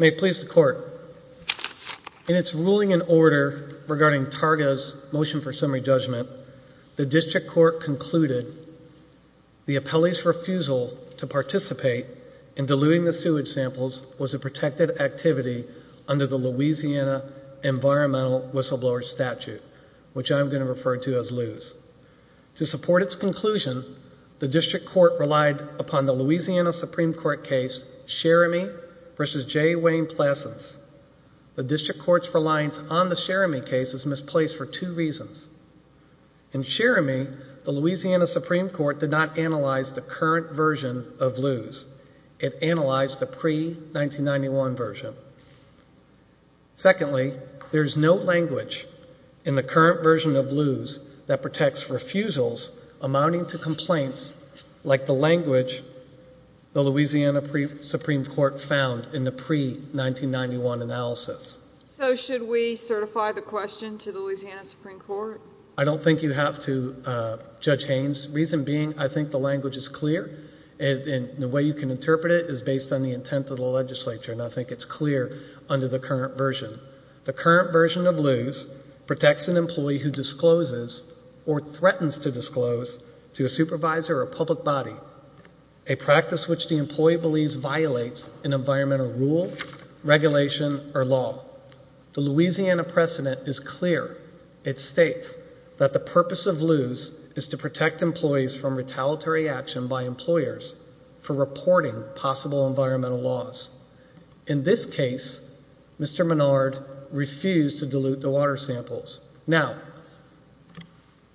May it please the Court, in its ruling and order regarding Targa's motion for summary judgment, the District Court concluded the appellee's refusal to participate in diluting the sewage samples was a protected activity under the Louisiana Environmental Whistleblower Statute, which I'm going to refer to as LEWS. To support its conclusion, the District Court relied upon the Louisiana Supreme Court case Sheramy v. J. Wayne-Plessence. The District Court's reliance on the Sheramy case is misplaced for two reasons. In Sheramy, the Louisiana Supreme Court did not analyze the current version of LEWS. It analyzed the pre-1991 version. Secondly, there is no language in the current version of LEWS that protects refusals amounting to complaints like the language the Louisiana Supreme Court found in the pre-1991 analysis. So should we certify the question to the Louisiana Supreme Court? I don't think you have to, Judge Haynes, the reason being I think the language is clear and the way you can interpret it is based on the intent of the legislature, and I think it's clear under the current version. The current version of LEWS protects an employee who discloses or threatens to disclose to a supervisor or public body a practice which the employee believes violates an environmental rule, regulation, or law. The Louisiana precedent is clear. It states that the purpose of LEWS is to protect employees from retaliatory action by employers for reporting possible environmental laws. In this case, Mr. Menard refused to dilute the water samples. Now,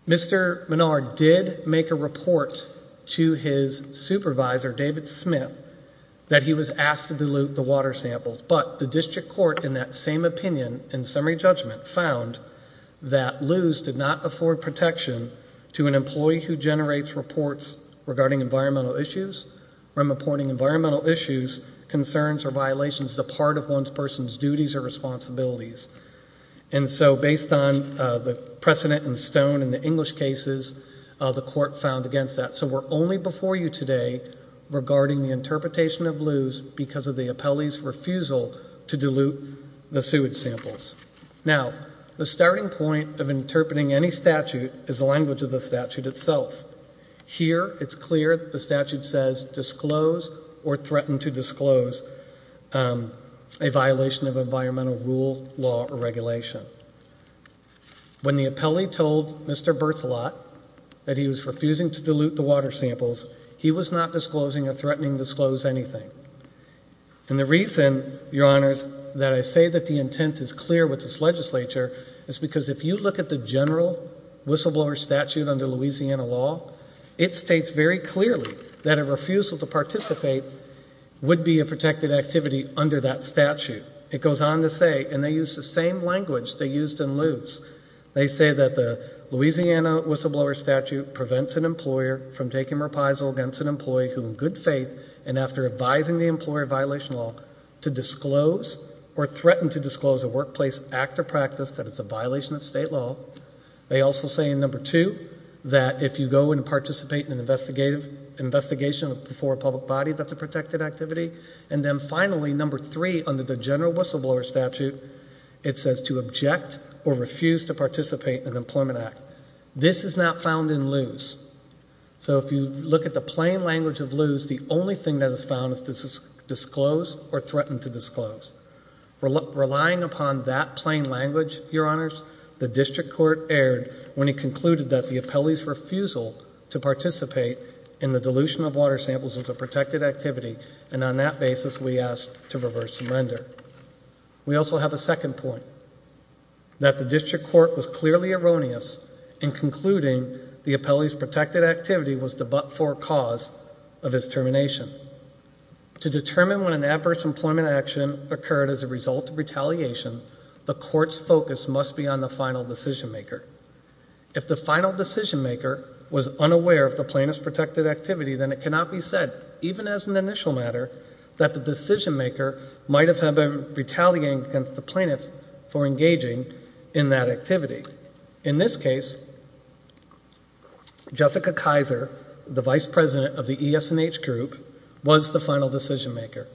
Mr. Menard did make a report to his supervisor, David Smith, that he was asked to dilute the water samples, but the district court in that same opinion and summary judgment found that LEWS did not afford protection to an employee who generates reports regarding environmental issues or reporting environmental issues, concerns, or violations as a part of one's person's duties or responsibilities. And so based on the precedent in stone in the English cases, the court found against that. So we're only before you today regarding the interpretation of LEWS because of the appellee's refusal to dilute the sewage samples. Now, the starting point of interpreting any statute is the language of the statute itself. Here, it's clear the statute says disclose or threaten to disclose a violation of environmental rule, law, or regulation. When the appellee told Mr. Berthelot that he was refusing to dilute the water samples, he was not disclosing or threatening to disclose anything. And the reason, Your Honors, that I say that the intent is clear with this legislature is because if you look at the general whistleblower statute under Louisiana law, it states very clearly that a refusal to participate would be a protected activity under that statute. It goes on to say, and they use the same language they used in LEWS, they say that the Louisiana whistleblower statute prevents an employer from taking reprisal against an employee who in good faith and after advising the employer of violation law to disclose or threaten to disclose a workplace act or practice that is a violation of state law. They also say in number two that if you go and participate in an investigation before a public body, that's a protected activity. And then finally, number three, under the general whistleblower statute, it says to object or refuse to participate in an employment act. This is not found in LEWS. So if you look at the plain language of LEWS, the only thing that is found is to disclose or threaten to disclose. Relying upon that plain language, Your Honors, the district court erred when it concluded that the appellee's refusal to participate in the dilution of water samples is a protected activity, and on that basis we ask to reverse and render. We also have a second point, that the district court was clearly erroneous in concluding the appellee's protected activity was the but-for cause of his termination. To determine when an adverse employment action occurred as a result of retaliation, the court's focus must be on the final decision maker. If the final decision maker was unaware of the plaintiff's protected activity, then it is an initial matter that the decision maker might have been retaliating against the plaintiff for engaging in that activity. In this case, Jessica Kaiser, the vice president of the ES&H group, was the final decision maker,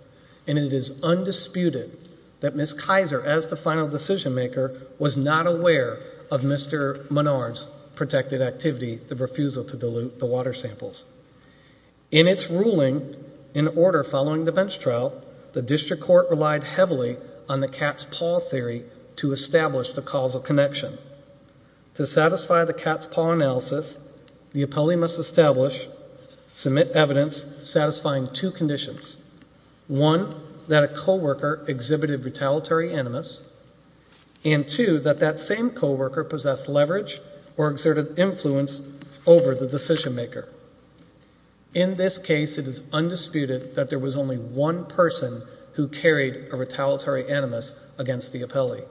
and it is undisputed that Ms. Kaiser, as the final decision maker, was not aware of Mr. Menard's protected activity, the refusal to dilute the water samples. In its ruling, in order following the bench trial, the district court relied heavily on the cat's paw theory to establish the causal connection. To satisfy the cat's paw analysis, the appellee must establish, submit evidence satisfying two conditions, one, that a coworker exhibited retaliatory animus, and two, that that same influence over the decision maker. In this case, it is undisputed that there was only one person who carried a retaliatory animus against the appellee.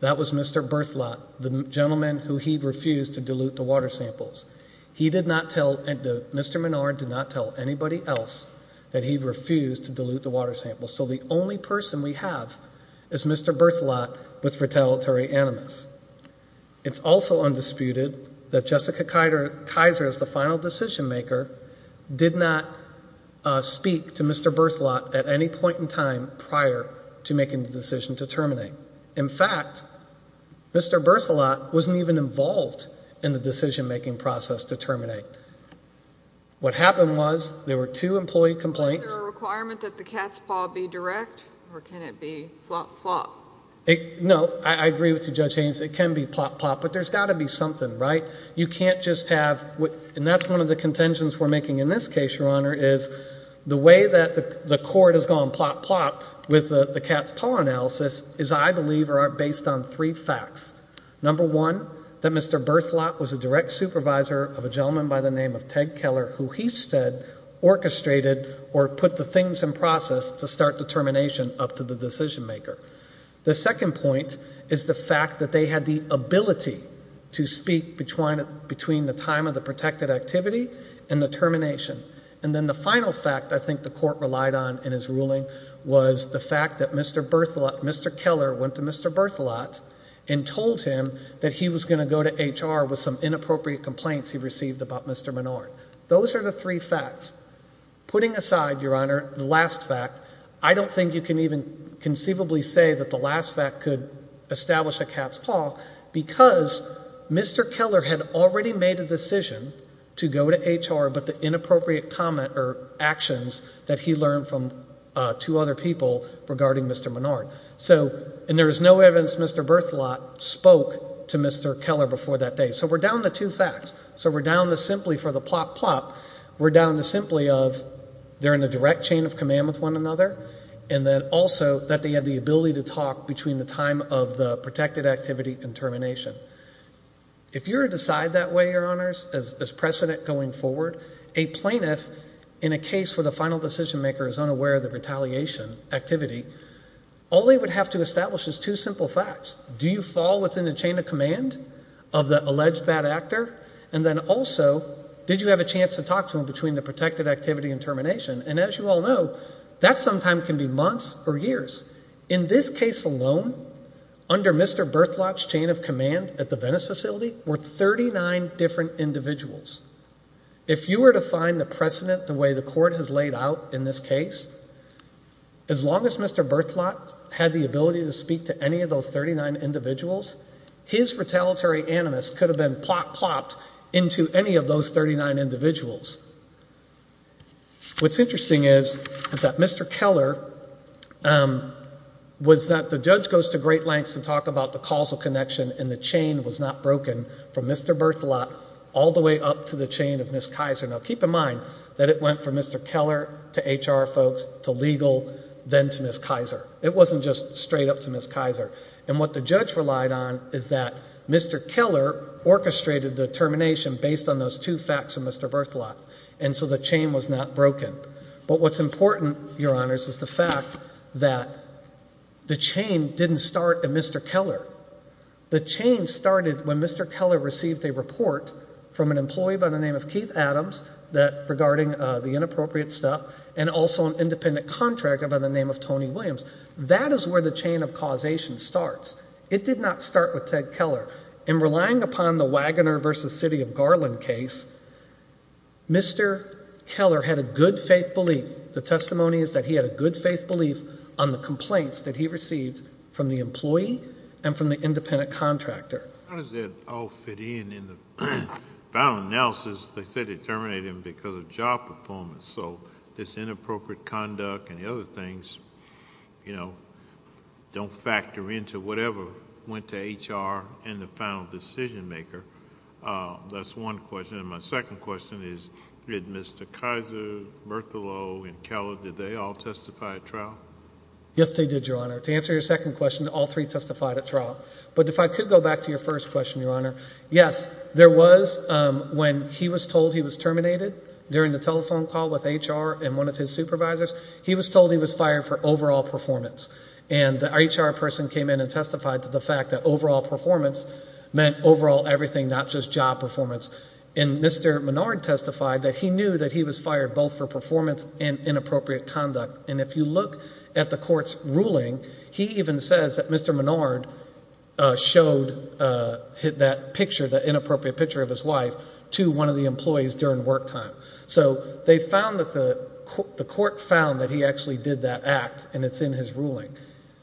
That was Mr. Berthelot, the gentleman who he refused to dilute the water samples. He did not tell, Mr. Menard did not tell anybody else that he refused to dilute the water samples. So the only person we have is Mr. Berthelot with retaliatory animus. It's also undisputed that Jessica Kaiser, as the final decision maker, did not speak to Mr. Berthelot at any point in time prior to making the decision to terminate. In fact, Mr. Berthelot wasn't even involved in the decision making process to terminate. What happened was, there were two employee complaints. Is there a requirement that the cat's paw be direct, or can it be flop, flop? No, I agree with you, Judge Haynes. It can be flop, flop, but there's got to be something, right? You can't just have, and that's one of the contentions we're making in this case, Your Honor, is the way that the court has gone flop, flop with the cat's paw analysis is, I believe, based on three facts. Number one, that Mr. Berthelot was a direct supervisor of a gentleman by the name of Ted Keller who he said orchestrated or put the things in process to start the termination up to the decision maker. The second point is the fact that they had the ability to speak between the time of the protected activity and the termination. And then the final fact I think the court relied on in his ruling was the fact that Mr. Keller went to Mr. Berthelot and told him that he was going to go to HR with some inappropriate complaints he received about Mr. Menard. Those are the three facts. Putting aside, Your Honor, the last fact, I don't think you can even conceivably say that the last fact could establish a cat's paw because Mr. Keller had already made a decision to go to HR, but the inappropriate comment or actions that he learned from two other people regarding Mr. Menard. So and there is no evidence Mr. Berthelot spoke to Mr. Keller before that day. So we're down to two facts. So we're down to simply for the plop, plop. We're down to simply of they're in a direct chain of command with one another and then also that they had the ability to talk between the time of the protected activity and termination. If you were to decide that way, Your Honors, as precedent going forward, a plaintiff in a case where the final decision maker is unaware of the retaliation activity, all they would have to establish is two simple facts. Do you fall within the chain of command of the alleged bad actor? And then also, did you have a chance to talk to him between the protected activity and termination? And as you all know, that sometime can be months or years. In this case alone, under Mr. Berthelot's chain of command at the Venice facility were 39 different individuals. If you were to find the precedent the way the court has laid out in this case, as long as Mr. Berthelot had the ability to speak to any of those 39 individuals, his retaliatory animus could have been plop, plopped into any of those 39 individuals. What's interesting is that Mr. Keller was that the judge goes to great lengths to talk about the causal connection and the chain was not broken from Mr. Berthelot all the way up to the chain of Ms. Kaiser. Now, keep in mind that it went from Mr. Keller to HR folks to legal, then to Ms. Kaiser. It wasn't just straight up to Ms. Kaiser. And what the judge relied on is that Mr. Keller orchestrated the termination based on those two facts of Mr. Berthelot. And so the chain was not broken. But what's important, Your Honors, is the fact that the chain didn't start at Mr. Keller. The chain started when Mr. Keller received a report from an employee by the name of Keith Adams regarding the inappropriate stuff and also an independent contractor by the name of Tony Williams. That is where the chain of causation starts. It did not start with Ted Keller. In relying upon the Wagoner v. City of Garland case, Mr. Keller had a good faith belief. The testimony is that he had a good faith belief on the complaints that he received from the employee and from the independent contractor. How does that all fit in in the final analysis that said it terminated him because of job performance? So this inappropriate conduct and the other things, you know, don't factor into whatever went to HR and the final decision maker. That's one question. And my second question is, did Mr. Kaiser, Berthelot, and Keller, did they all testify at trial? Yes, they did, Your Honor. To answer your second question, all three testified at trial. But if I could go back to your first question, Your Honor, yes, there was when he was told he was terminated during the telephone call with HR and one of his supervisors, he was told he was fired for overall performance. And the HR person came in and testified to the fact that overall performance meant overall everything, not just job performance. And Mr. Menard testified that he knew that he was fired both for performance and inappropriate conduct. And if you look at the court's ruling, he even says that Mr. Menard showed that picture, that inappropriate picture of his wife, to one of the employees during work time. So they found that the court found that he actually did that act, and it's in his ruling.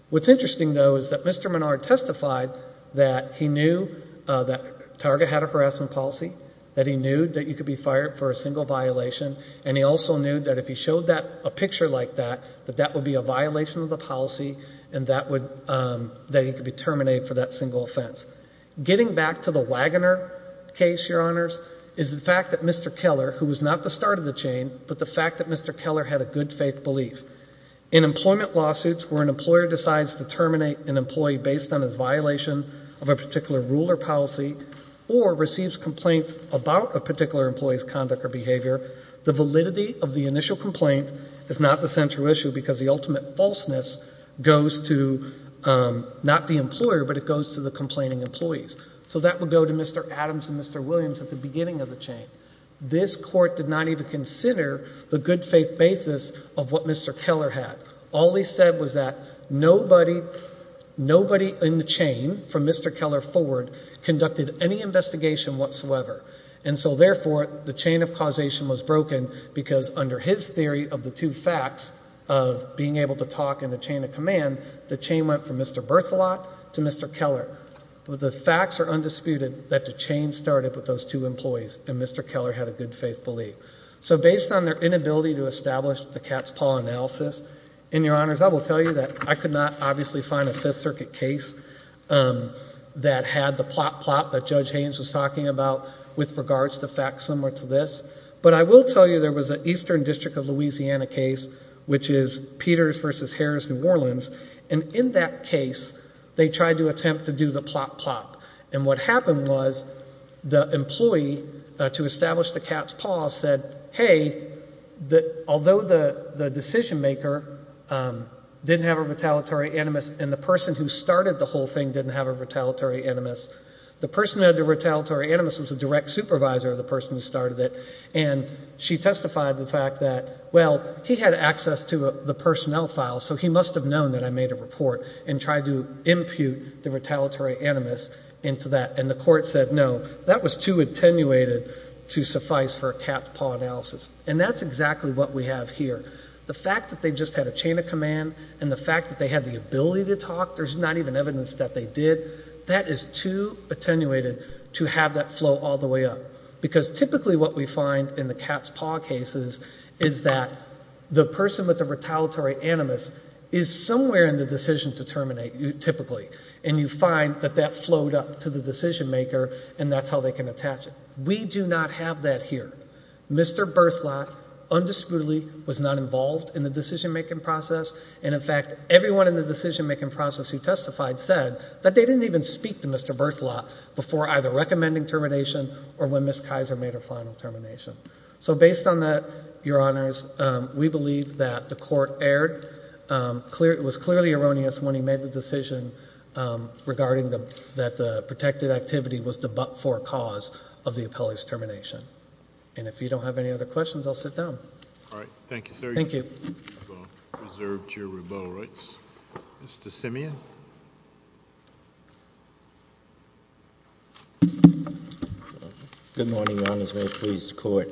What's interesting, though, is that Mr. Menard testified that he knew that Target had a harassment policy, that he knew that he could be fired for a single violation, and he also knew that if he showed a picture like that, that that would be a violation of the policy and that he could be terminated for that single offense. Getting back to the Wagoner case, Your Honors, is the fact that Mr. Keller, who was not the start of the chain, but the fact that Mr. Keller had a good faith belief. In employment lawsuits where an employer decides to terminate an employee based on his violation of a particular rule or policy or receives complaints about a particular employee's conduct or behavior, the validity of the initial complaint is not the central issue because the ultimate So that would go to Mr. Adams and Mr. Williams at the beginning of the chain. This court did not even consider the good faith basis of what Mr. Keller had. All he said was that nobody, nobody in the chain from Mr. Keller forward conducted any investigation whatsoever. And so therefore, the chain of causation was broken because under his theory of the two facts of being able to talk in the chain of command, the chain went from Mr. Berthelot to Mr. Keller. The facts are undisputed that the chain started with those two employees and Mr. Keller had a good faith belief. So based on their inability to establish the Katz-Paul analysis, and Your Honors, I will tell you that I could not obviously find a Fifth Circuit case that had the plot plot that Judge Haynes was talking about with regards to facts similar to this. But I will tell you there was an Eastern District of Louisiana case, which is Peters versus they tried to attempt to do the plot plot. And what happened was the employee to establish the Katz-Paul said, hey, although the decision maker didn't have a retaliatory animus and the person who started the whole thing didn't have a retaliatory animus, the person who had the retaliatory animus was the direct supervisor of the person who started it. And she testified the fact that, well, he had access to the personnel file, so he must have known that I made a report and tried to impute the retaliatory animus into that. And the court said, no, that was too attenuated to suffice for a Katz-Paul analysis. And that's exactly what we have here. The fact that they just had a chain of command and the fact that they had the ability to talk, there's not even evidence that they did, that is too attenuated to have that flow all the way up. Because typically what we find in the Katz-Paul cases is that the person with the retaliatory animus is somewhere in the decision to terminate, typically. And you find that that flowed up to the decision maker and that's how they can attach it. We do not have that here. Mr. Berthelot undisputedly was not involved in the decision making process. And in fact, everyone in the decision making process who testified said that they didn't even speak to Mr. Berthelot before either recommending termination or when Ms. Kaiser made her final termination. So based on that, your honors, we believe that the court was clearly erroneous when he made the decision regarding that the protected activity was the but-for cause of the appellee's termination. And if you don't have any other questions, I'll sit down. All right. Thank you, sir. Thank you. You've reserved your rebuttal rights. Mr. Simeon? Good morning, Your Honors. May it please the Court.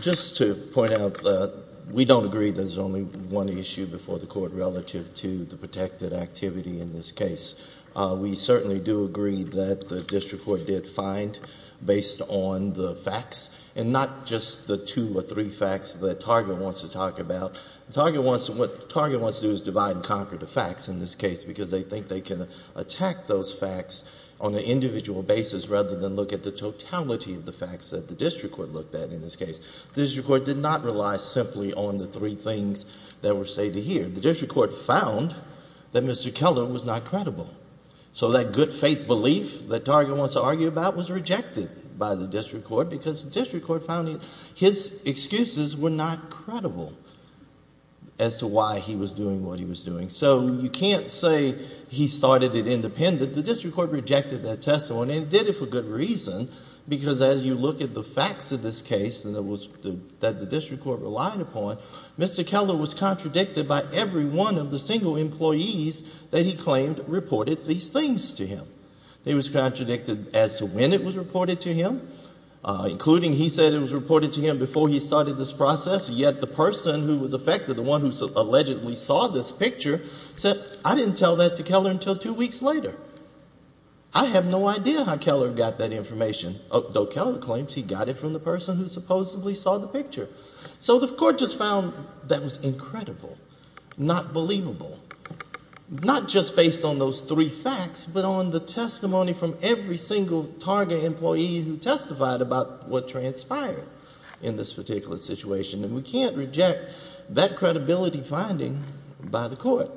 Just to point out that we don't agree there's only one issue before the Court relative to the protected activity in this case. We certainly do agree that the district court did find, based on the facts, and not just the two or three facts that Target wants to talk about. Target wants to, what Target wants to do is divide and conquer the facts in this case because they think they can attack those facts on an individual basis rather than look at the totality of the facts that the district court looked at in this case. The district court did not rely simply on the three things that were stated here. The district court found that Mr. Keller was not credible. So that good faith belief that Target wants to argue about was rejected by the district court because the district court found his excuses were not credible as to why he was doing what he was doing. So you can't say he started it independent. The district court rejected that testimony and did it for good reason because as you look at the facts of this case that the district court relied upon, Mr. Keller was contradicted by every one of the single employees that he claimed reported these things to him. He was contradicted as to when it was reported to him, including he said it was reported to him before he started this process, yet the person who was affected, the one who allegedly saw this picture said, I didn't tell that to Keller until two weeks later. I have no idea how Keller got that information, though Keller claims he got it from the person who supposedly saw the picture. So the court just found that was incredible, not believable, not just based on those three testimonies from every single Target employee who testified about what transpired in this particular situation. And we can't reject that credibility finding by the court.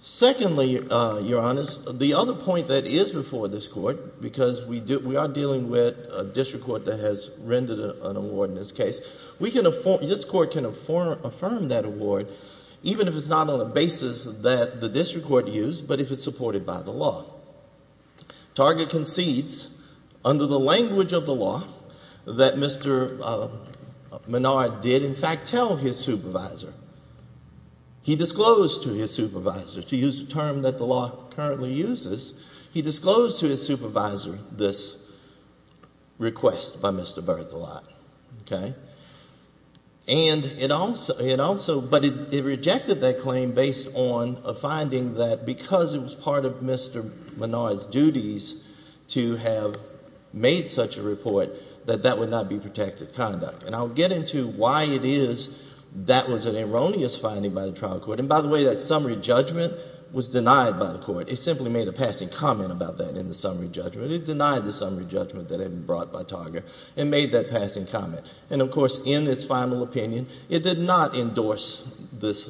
Secondly, Your Honors, the other point that is before this court, because we are dealing with a district court that has rendered an award in this case, this court can affirm that award even if it's not on a basis that the district court used, but if it's supported by the law. Target concedes under the language of the law that Mr. Menard did in fact tell his supervisor. He disclosed to his supervisor, to use the term that the law currently uses, he disclosed to his supervisor this request by Mr. Berthelot, okay? And it also, but it rejected that claim based on a finding that because it was part of Mr. Menard's duties to have made such a report, that that would not be protected conduct. And I'll get into why it is that was an erroneous finding by the trial court. And by the way, that summary judgment was denied by the court. It simply made a passing comment about that in the summary judgment. It denied the summary judgment that had been brought by Target and made that passing comment. And of course, in its final opinion, it did not endorse this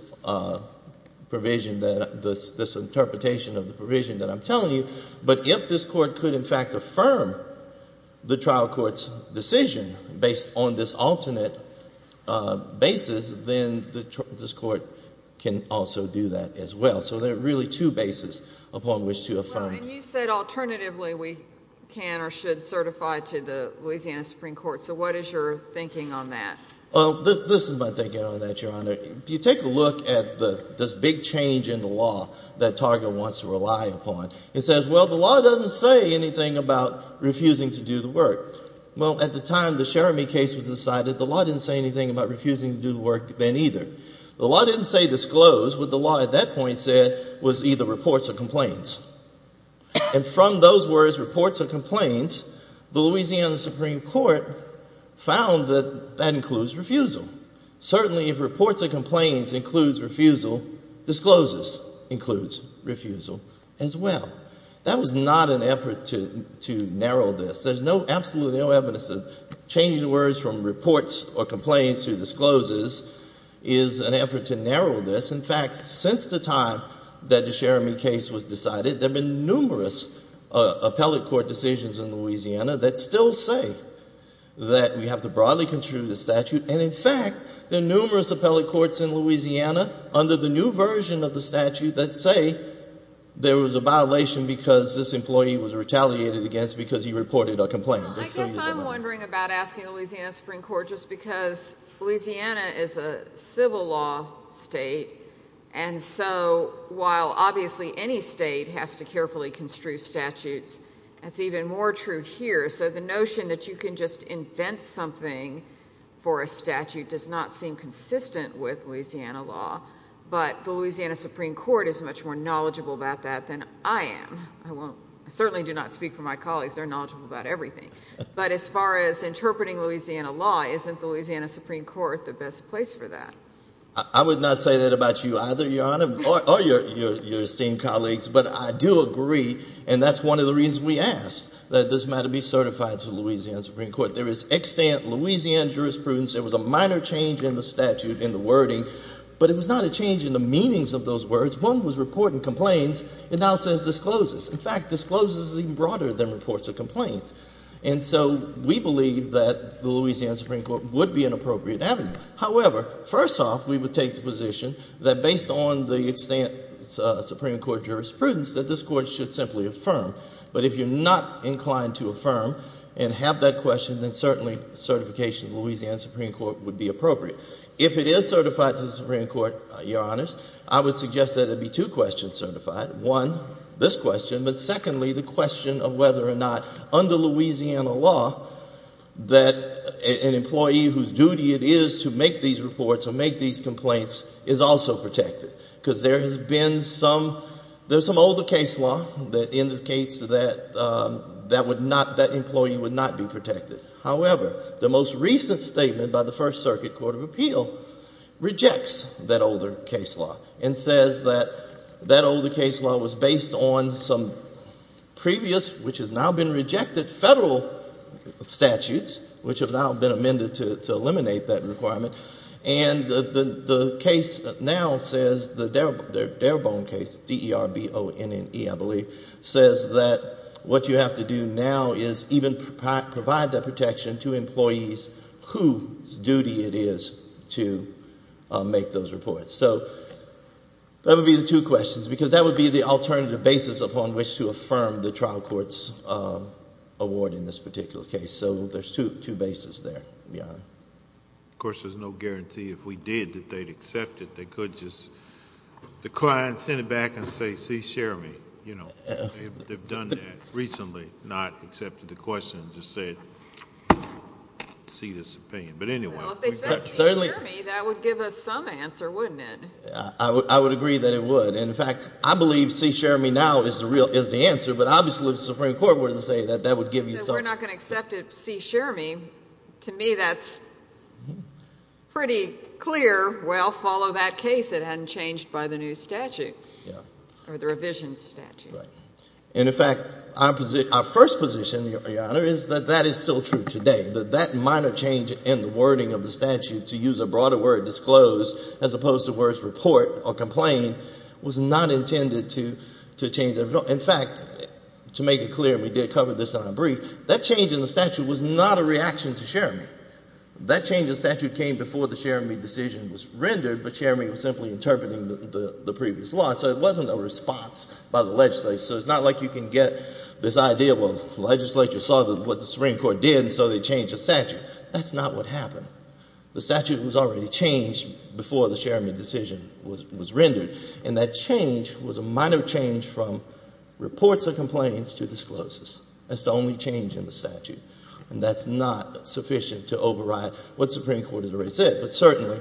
provision, this interpretation of the provision that I'm telling you, but if this court could in fact affirm the trial court's decision based on this alternate basis, then this court can also do that as well. So there are really two bases upon which to affirm. Well, and you said alternatively we can or should certify to the Louisiana Supreme Court. So what is your thinking on that? Well, this is my thinking on that, Your Honor. If you take a look at this big change in the law that Target wants to rely upon, it says, well, the law doesn't say anything about refusing to do the work. Well, at the time the Cherami case was decided, the law didn't say anything about refusing to do the work then either. The law didn't say disclose. What the law at that point said was either reports or complaints. And from those words, reports or complaints, the Louisiana Supreme Court found that that includes refusal. Certainly, if reports or complaints includes refusal, discloses includes refusal as well. That was not an effort to narrow this. There's absolutely no evidence that changing the words from reports or complaints to discloses is an effort to narrow this. In fact, since the time that the Cherami case was decided, there have been numerous appellate court decisions in Louisiana that still say that we have to broadly contribute the statute. And in fact, there are numerous appellate courts in Louisiana under the new version of the statute that say there was a violation because this employee was retaliated against because he reported a complaint. I guess I'm wondering about asking Louisiana Supreme Court just because Louisiana is a state. And so while obviously any state has to carefully construe statutes, it's even more true here. So the notion that you can just invent something for a statute does not seem consistent with Louisiana law, but the Louisiana Supreme Court is much more knowledgeable about that than I am. I certainly do not speak for my colleagues. They're knowledgeable about everything. But as far as interpreting Louisiana law, isn't the Louisiana Supreme Court the best place for that? I would not say that about you either, Your Honor, or your esteemed colleagues. But I do agree. And that's one of the reasons we asked that this matter be certified to Louisiana Supreme Court. There is extant Louisiana jurisprudence. There was a minor change in the statute, in the wording. But it was not a change in the meanings of those words. One was reporting complaints. It now says discloses. In fact, discloses is even broader than reports of complaints. And so we believe that the Louisiana Supreme Court would be an appropriate avenue. However, first off, we would take the position that based on the extant Supreme Court jurisprudence that this Court should simply affirm. But if you're not inclined to affirm and have that question, then certainly certification of the Louisiana Supreme Court would be appropriate. If it is certified to the Supreme Court, Your Honors, I would suggest that it be two questions certified. One, this question, but secondly, the question of whether or not under Louisiana law that an employee whose duty it is to make these reports or make these complaints is also protected. Because there has been some, there's some older case law that indicates that that would not, that employee would not be protected. However, the most recent statement by the First Circuit Court of Appeal rejects that older case law and says that that older case law was based on some previous, which has now been amended to eliminate that requirement. And the case now says, the Darebone case, D-E-R-B-O-N-N-E, I believe, says that what you have to do now is even provide that protection to employees whose duty it is to make those reports. So that would be the two questions, because that would be the alternative basis upon which to affirm the trial court's award in this particular case. So there's two bases there, Your Honor. Of course, there's no guarantee if we did that they'd accept it. They could just decline, send it back, and say, see, share me. You know, they've done that recently, not accepted the question and just said, see this opinion. But anyway. Well, if they said, see, share me, that would give us some answer, wouldn't it? I would agree that it would. And in fact, I believe, see, share me now is the real, is the answer. But obviously, the Supreme Court wouldn't say that that would give you some. If they said we're not going to accept it, see, share me, to me, that's pretty clear. Well, follow that case. It hadn't changed by the new statute or the revision statute. Right. And in fact, our first position, Your Honor, is that that is still true today. That minor change in the wording of the statute to use a broader word, disclose, as opposed to the words report or complain, was not intended to change the, in fact, to make it clear, and we did cover this in our brief, that change in the statute was not a reaction to share me. That change in statute came before the share me decision was rendered, but share me was simply interpreting the previous law. So it wasn't a response by the legislature. So it's not like you can get this idea, well, legislature saw what the Supreme Court did and so they changed the statute. That's not what happened. The statute was already changed before the share me decision was rendered. And that change was a minor change from reports or complaints to discloses. That's the only change in the statute. And that's not sufficient to override what the Supreme Court has already said. But certainly,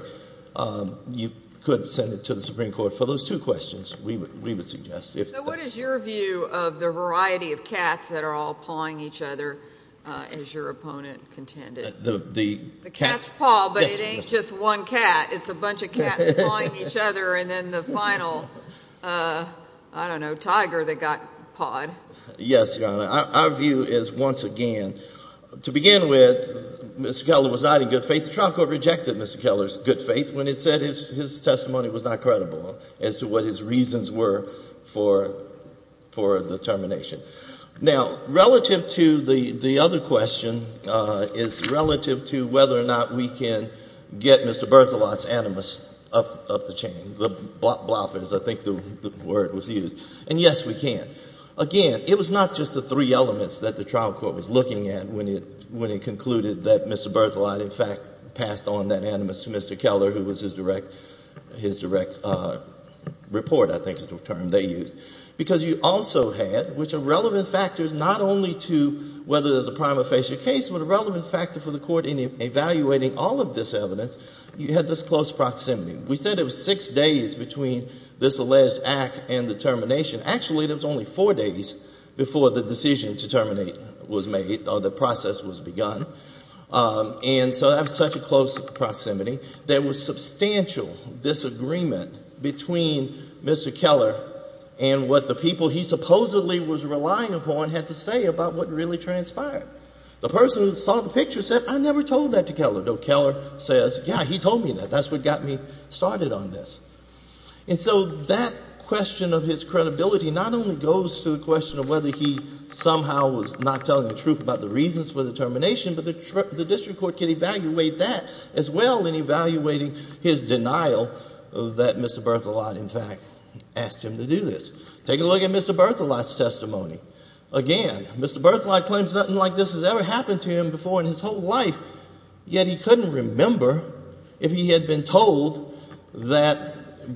you could send it to the Supreme Court for those two questions, we would suggest. So what is your view of the variety of cats that are all pawing each other as your opponent contended? The cats. The cats paw, but it ain't just one cat. It's a bunch of cats pawing each other and then the final, I don't know, tiger that got pawed. Yes, Your Honor. Our view is once again, to begin with, Mr. Keller was not in good faith. The trial court rejected Mr. Keller's good faith when it said his testimony was not credible as to what his reasons were for the termination. Now, relative to the other question, is relative to whether or not we can get Mr. Berthelot's animus up the chain, the bloppers, I think the word was used. And yes, we can. Again, it was not just the three elements that the trial court was looking at when it concluded that Mr. Berthelot, in fact, passed on that animus to Mr. Keller, who was his direct report, I think is the term they used. Because you also had, which are relevant factors not only to whether there's a prima facie case, but a relevant factor for the court in evaluating all of this evidence, you had this close proximity. We said it was six days between this alleged act and the termination. Actually, it was only four days before the decision to terminate was made or the process was begun. And so that was such a close proximity. There was substantial disagreement between Mr. Keller and what the people he supposedly was relying upon had to say about what really transpired. The person who saw the picture said, I never told that to Keller, though Keller says, yeah, he told me that. That's what got me started on this. And so that question of his credibility not only goes to the question of whether he somehow was not telling the truth about the reasons for the termination, but the district court can evaluate that as well in evaluating his denial that Mr. Berthelot, in fact, asked him to do this. Take a look at Mr. Berthelot's testimony. Again, Mr. Berthelot claims nothing like this has ever happened to him before in his whole life, yet he couldn't remember if he had been told that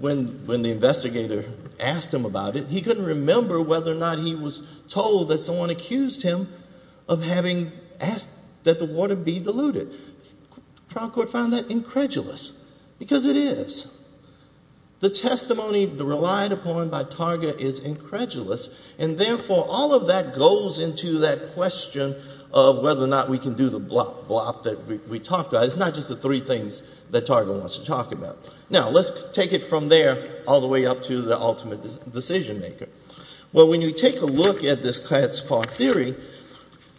when the investigator asked him about it, he couldn't remember whether or not he was told that someone accused him of having asked that the water be diluted. The trial court found that incredulous, because it is. The testimony relied upon by Targa is incredulous, and therefore all of that goes into that question of whether or not we can do the blop-blop that we talked about. It's not just the three things that Targa wants to talk about. Now let's take it from there all the way up to the ultimate decision maker. Well, when you take a look at this Katz-Parr theory,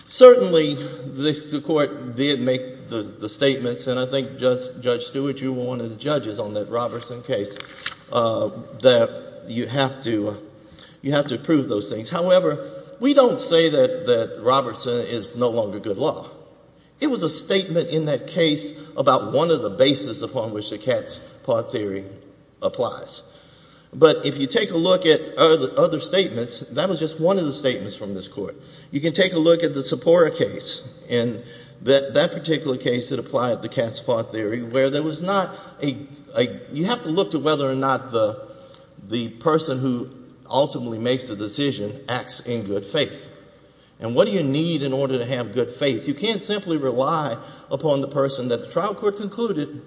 certainly the court did make the statements, and I think Judge Stewart, you were one of the judges on that Robertson case, that you have to prove those things. However, we don't say that Robertson is no longer good law. It was a statement in that case about one of the bases upon which the Katz-Parr theory applies. But if you take a look at other statements, that was just one of the statements from this court. You can take a look at the Sepora case, and that particular case that applied the Katz-Parr theory, where there was not a, you have to look to whether or not the person who ultimately makes the decision acts in good faith. And what do you need in order to have good faith? You can't simply rely upon the person that the trial court concluded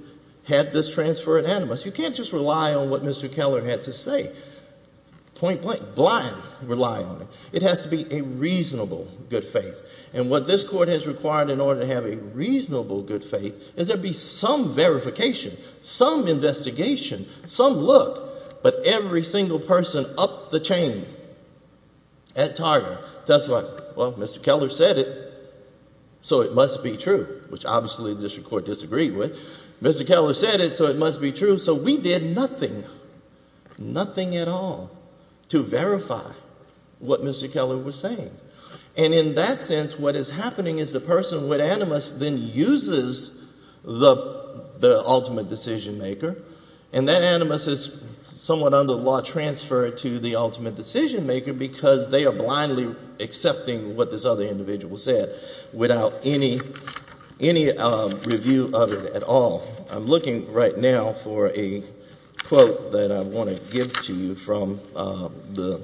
had this transfer unanimous. You can't just rely on what Mr. Keller had to say, point blank, blind rely on it. It has to be a reasonable good faith. And what this court has required in order to have a reasonable good faith is there be some verification, some investigation, some look. But every single person up the chain at Target does what? Well, Mr. Keller said it, so it must be true, which obviously the district court disagreed with. Mr. Keller said it, so it must be true. So we did nothing, nothing at all to verify what Mr. Keller was saying. And in that sense, what is happening is the person with animus then uses the ultimate decision maker, and that animus is somewhat under the law transferred to the ultimate decision maker because they are blindly accepting what this other individual said without any review of it at all. I'm looking right now for a quote that I want to give to you from the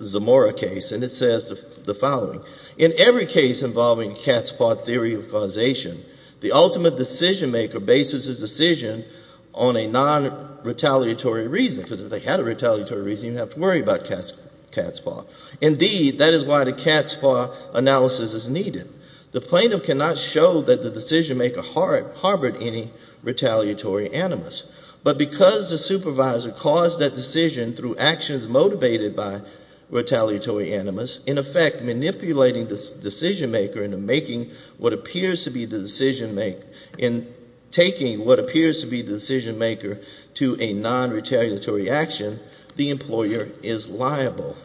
Zamora case, and it says the following. In every case involving cat spa theory of causation, the ultimate decision maker bases his decision on a non-retaliatory reason because if they had a retaliatory reason, you'd have to worry about cat spa. Indeed, that is why the cat spa analysis is needed. The plaintiff cannot show that the decision maker harbored any retaliatory animus. But because the supervisor caused that decision through actions motivated by retaliatory animus, in effect manipulating the decision maker into making what appears to be the decision make, in taking what appears to be the decision maker to a non-retaliatory action, the employer is liable.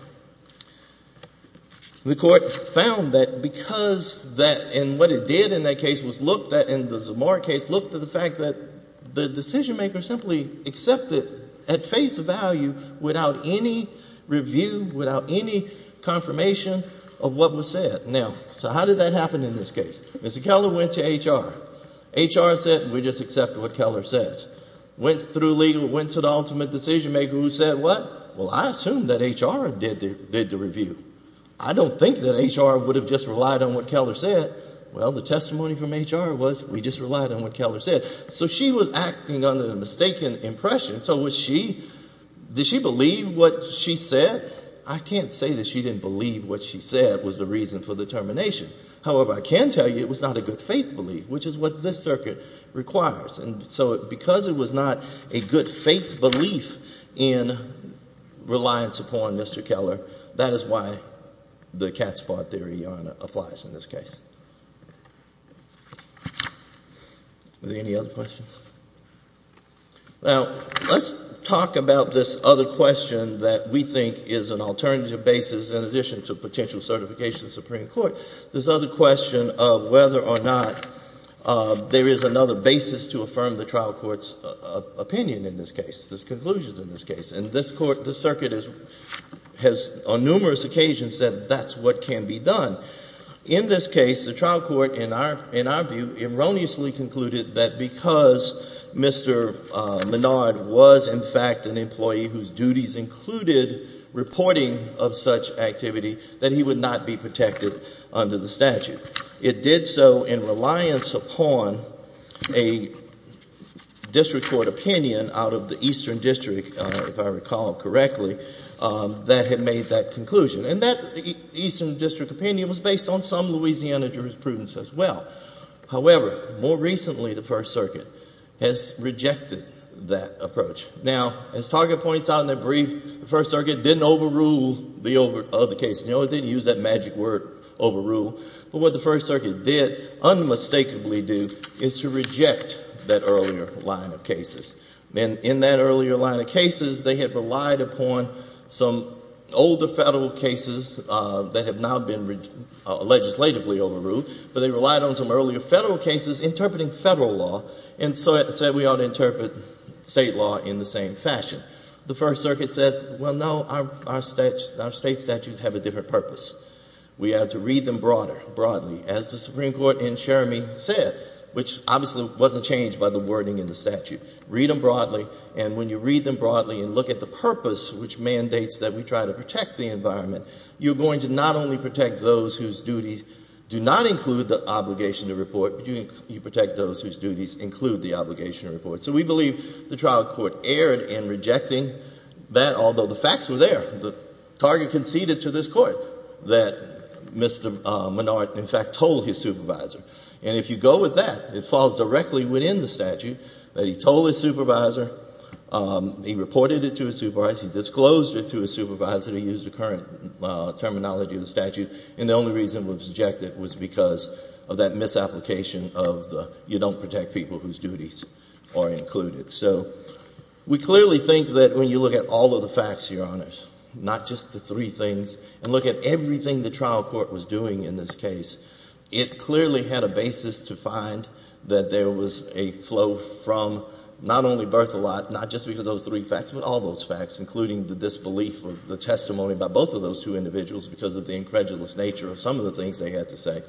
The court found that because that, and what it did in that case was look, in the Zamora case, looked at the fact that the decision maker simply accepted at face value without any review, without any confirmation of what was said. Now, so how did that happen in this case? Mr. Keller went to HR. HR said, we just accept what Keller says. Went through legal, went to the ultimate decision maker who said what? Well, I assume that HR did the review. I don't think that HR would have just relied on what Keller said. Well, the testimony from HR was we just relied on what Keller said. So she was acting under the mistaken impression. So was she, did she believe what she said? I can't say that she didn't believe what she said was the reason for the termination. However, I can tell you it was not a good faith belief, which is what this circuit requires. And so because it was not a good faith belief in reliance upon Mr. Keller, that is why the cat's paw theory applies in this case. Are there any other questions? Now, let's talk about this other question that we think is an alternative basis in addition to potential certification of the Supreme Court, this other question of whether or not there is another basis to affirm the trial court's opinion in this case, this conclusion in this case. And this court, this circuit has on numerous occasions said that's what can be done. In this case, the trial court, in our view, erroneously concluded that because Mr. Menard was in fact an employee whose duties included reporting of such activity, that he would not be protected under the statute. It did so in reliance upon a district court opinion out of the Eastern District, if I recall correctly, that had made that conclusion. And that Eastern District opinion was based on some Louisiana jurisprudence as well. However, more recently, the First Circuit has rejected that approach. Now, as Target points out in their brief, the First Circuit didn't overrule the case. No, it didn't use that magic word, overrule. But what the First Circuit did, unmistakably do, is to reject that earlier line of cases. And in that earlier line of cases, they had relied upon some older federal cases that have now been legislatively overruled, but they relied on some earlier federal cases interpreting federal law. And so it said we ought to interpret state law in the same fashion. The First Circuit says, well, no, our state statutes have a different purpose. We have to read them broadly, as the Supreme Court in Sheramine said, which obviously wasn't changed by the wording in the statute. Read them broadly, and when you read them broadly and look at the purpose which mandates that we try to protect the environment, you're going to not only protect those whose duties do not include the obligation to report, So we believe the trial court erred in rejecting that, although the facts were there. The target conceded to this court that Mr. Menard, in fact, told his supervisor. And if you go with that, it falls directly within the statute that he told his supervisor, he reported it to his supervisor, he disclosed it to his supervisor, he used the current terminology of the statute. And the only reason we've rejected it was because of that misapplication of the you don't protect people whose duties are included. So we clearly think that when you look at all of the facts here on it, not just the three things, and look at everything the trial court was doing in this case, it clearly had a basis to find that there was a flow from not only Berthelot, not just because of those three facts, but all those facts, including the disbelief of the testimony by both of those two individuals, because of the incredulous nature of some of the things they had to say.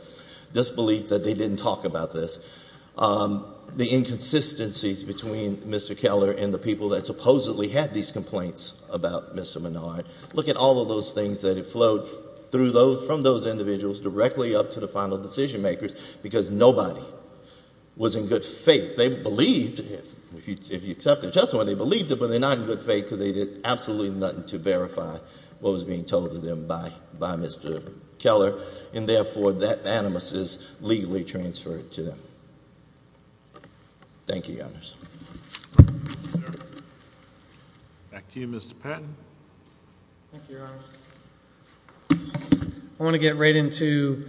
Disbelief that they didn't talk about this. The inconsistencies between Mr. Keller and the people that supposedly had these complaints about Mr. Menard. Look at all of those things that have flowed from those individuals directly up to the final decision makers, because nobody was in good faith. They believed, if you accept their testimony, they believed it, but they're not in good faith, because they did absolutely nothing to verify what was being told to them by Mr. Keller. And therefore, that animus is legally transferred to them. Thank you, Your Honors. Back to you, Mr. Patton. Thank you, Your Honors. I want to get right into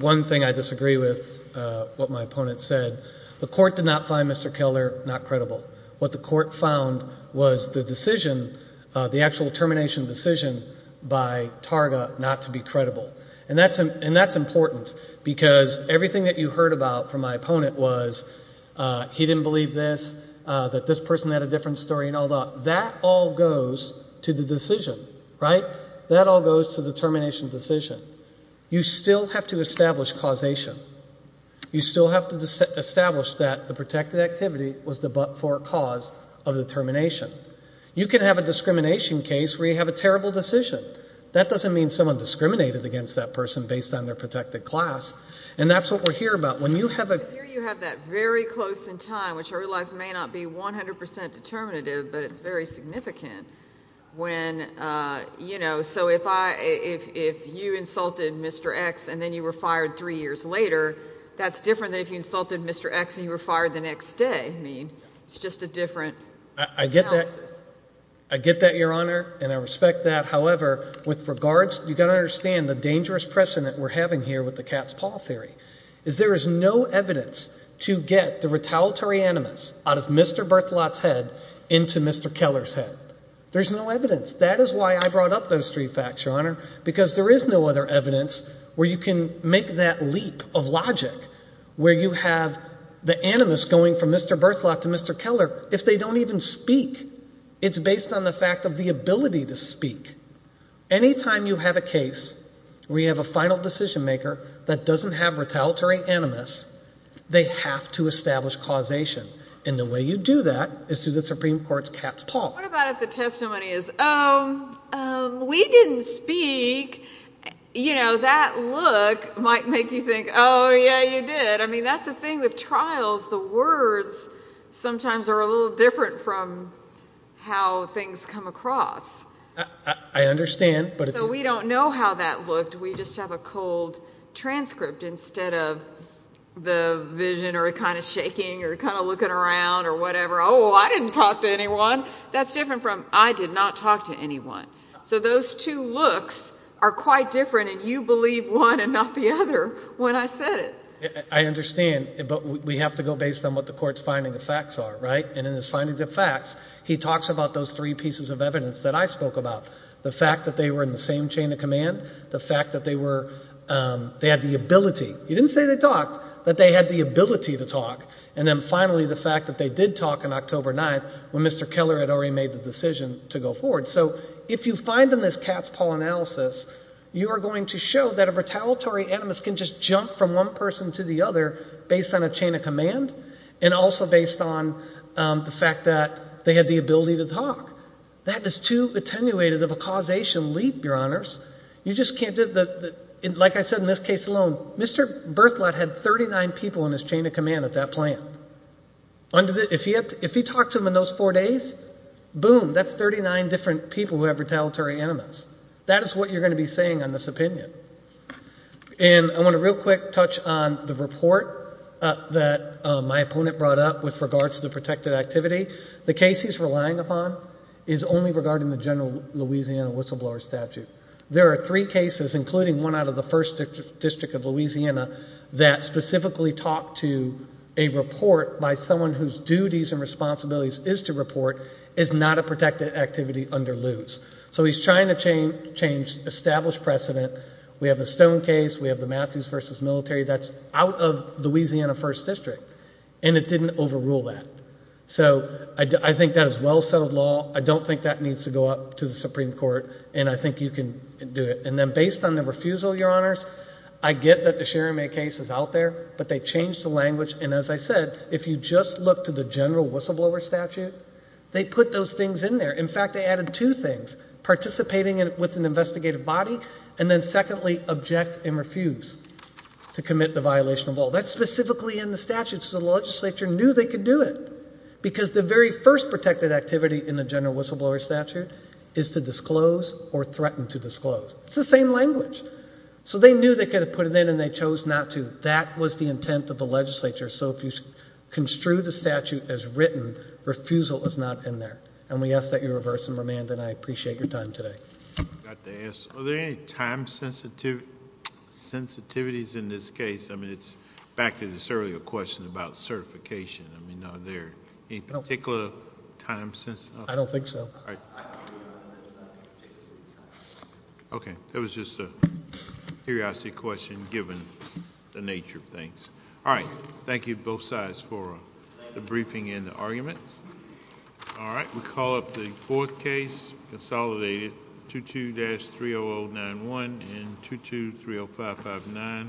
one thing I disagree with, what my opponent said. The court did not find Mr. Keller not credible. What the court found was the decision, the actual termination decision by Targa not to be credible. And that's important, because everything that you heard about from my opponent was he didn't believe this, that this person had a different story and all that. That all goes to the decision, right? That all goes to the termination decision. You still have to establish causation. You still have to establish that the protected activity was for a cause of the termination. You can have a discrimination case where you have a terrible decision. That doesn't mean someone discriminated against that person based on their protected class. And that's what we're here about. When you have a- I hear you have that very close in time, which I realize may not be 100% determinative, but it's very significant. When, you know, so if you insulted Mr. X and then you were fired three years later, that's different than if you insulted Mr. X and you were fired the next day. I mean, it's just a different analysis. I get that, Your Honor, and I respect that. However, with regards, you've got to understand the dangerous precedent we're having here with the cat's paw theory. Is there is no evidence to get the retaliatory animus out of Mr. Berthelot's head into Mr. Keller's head. There's no evidence. That is why I brought up those three facts, Your Honor, because there is no other evidence where you can make that leap of logic, where you have the animus going from Mr. Berthelot to Mr. Keller if they don't even speak. Anytime you have a case where you have a final decision maker that doesn't have retaliatory animus, they have to establish causation, and the way you do that is through the Supreme Court's cat's paw. What about if the testimony is, oh, we didn't speak. You know, that look might make you think, oh, yeah, you did. I mean, that's the thing with trials. The words sometimes are a little different from how things come across. I understand. So we don't know how that looked. We just have a cold transcript instead of the vision or kind of shaking or kind of looking around or whatever. Oh, I didn't talk to anyone. That's different from I did not talk to anyone. So those two looks are quite different, and you believe one and not the other when I said it. I understand, but we have to go based on what the court's finding the facts are, right? And in his finding the facts, he talks about those three pieces of evidence that I spoke about. The fact that they were in the same chain of command. The fact that they were, they had the ability. He didn't say they talked, but they had the ability to talk. And then finally, the fact that they did talk on October 9th when Mr. Keller had already made the decision to go forward. So if you find in this Katz-Paul analysis, you are going to show that a retaliatory animus can just jump from one person to the other based on a chain of command and also based on the fact that they had the ability to talk. That is too attenuated of a causation leap, your honors. You just can't, like I said in this case alone, Mr. Bertholdt had 39 people in his chain of command at that plant. If he talked to them in those four days, boom, that's 39 different people who have retaliatory animus. That is what you're going to be saying on this opinion. And I want to real quick touch on the report that my opponent brought up with regards to the protected activity. The case he's relying upon is only regarding the general Louisiana whistleblower statute. There are three cases, including one out of the First District of Louisiana, that specifically talk to a report by someone whose duties and responsibilities is to report is not a protected activity under loose. So he's trying to change established precedent. We have the Stone case. We have the Matthews versus military. That's out of Louisiana First District. And it didn't overrule that. So I think that is well-settled law. I don't think that needs to go up to the Supreme Court. And I think you can do it. And then based on the refusal, Your Honors, I get that the Cherimay case is out there. But they changed the language. And as I said, if you just look to the general whistleblower statute, they put those things in there. In fact, they added two things. Participating with an investigative body. And then secondly, object and refuse to commit the violation of all. That's specifically in the statute. So the legislature knew they could do it. Because the very first protected activity in the general whistleblower statute is to disclose or threaten to disclose. It's the same language. So they knew they could have put it in and they chose not to. That was the intent of the legislature. So if you construe the statute as written, refusal is not in there. And we ask that you reverse and remand. And I appreciate your time today. I forgot to ask, are there any time sensitivities in this case? I mean, it's back to this earlier question about certification. I mean, are there any particular time sensitivities? I don't think so. All right. OK, that was just a curiosity question given the nature of things. All right, thank you both sides for the briefing and the argument. All right, we'll call up the fourth case, consolidated 22-3091 and 22-30559.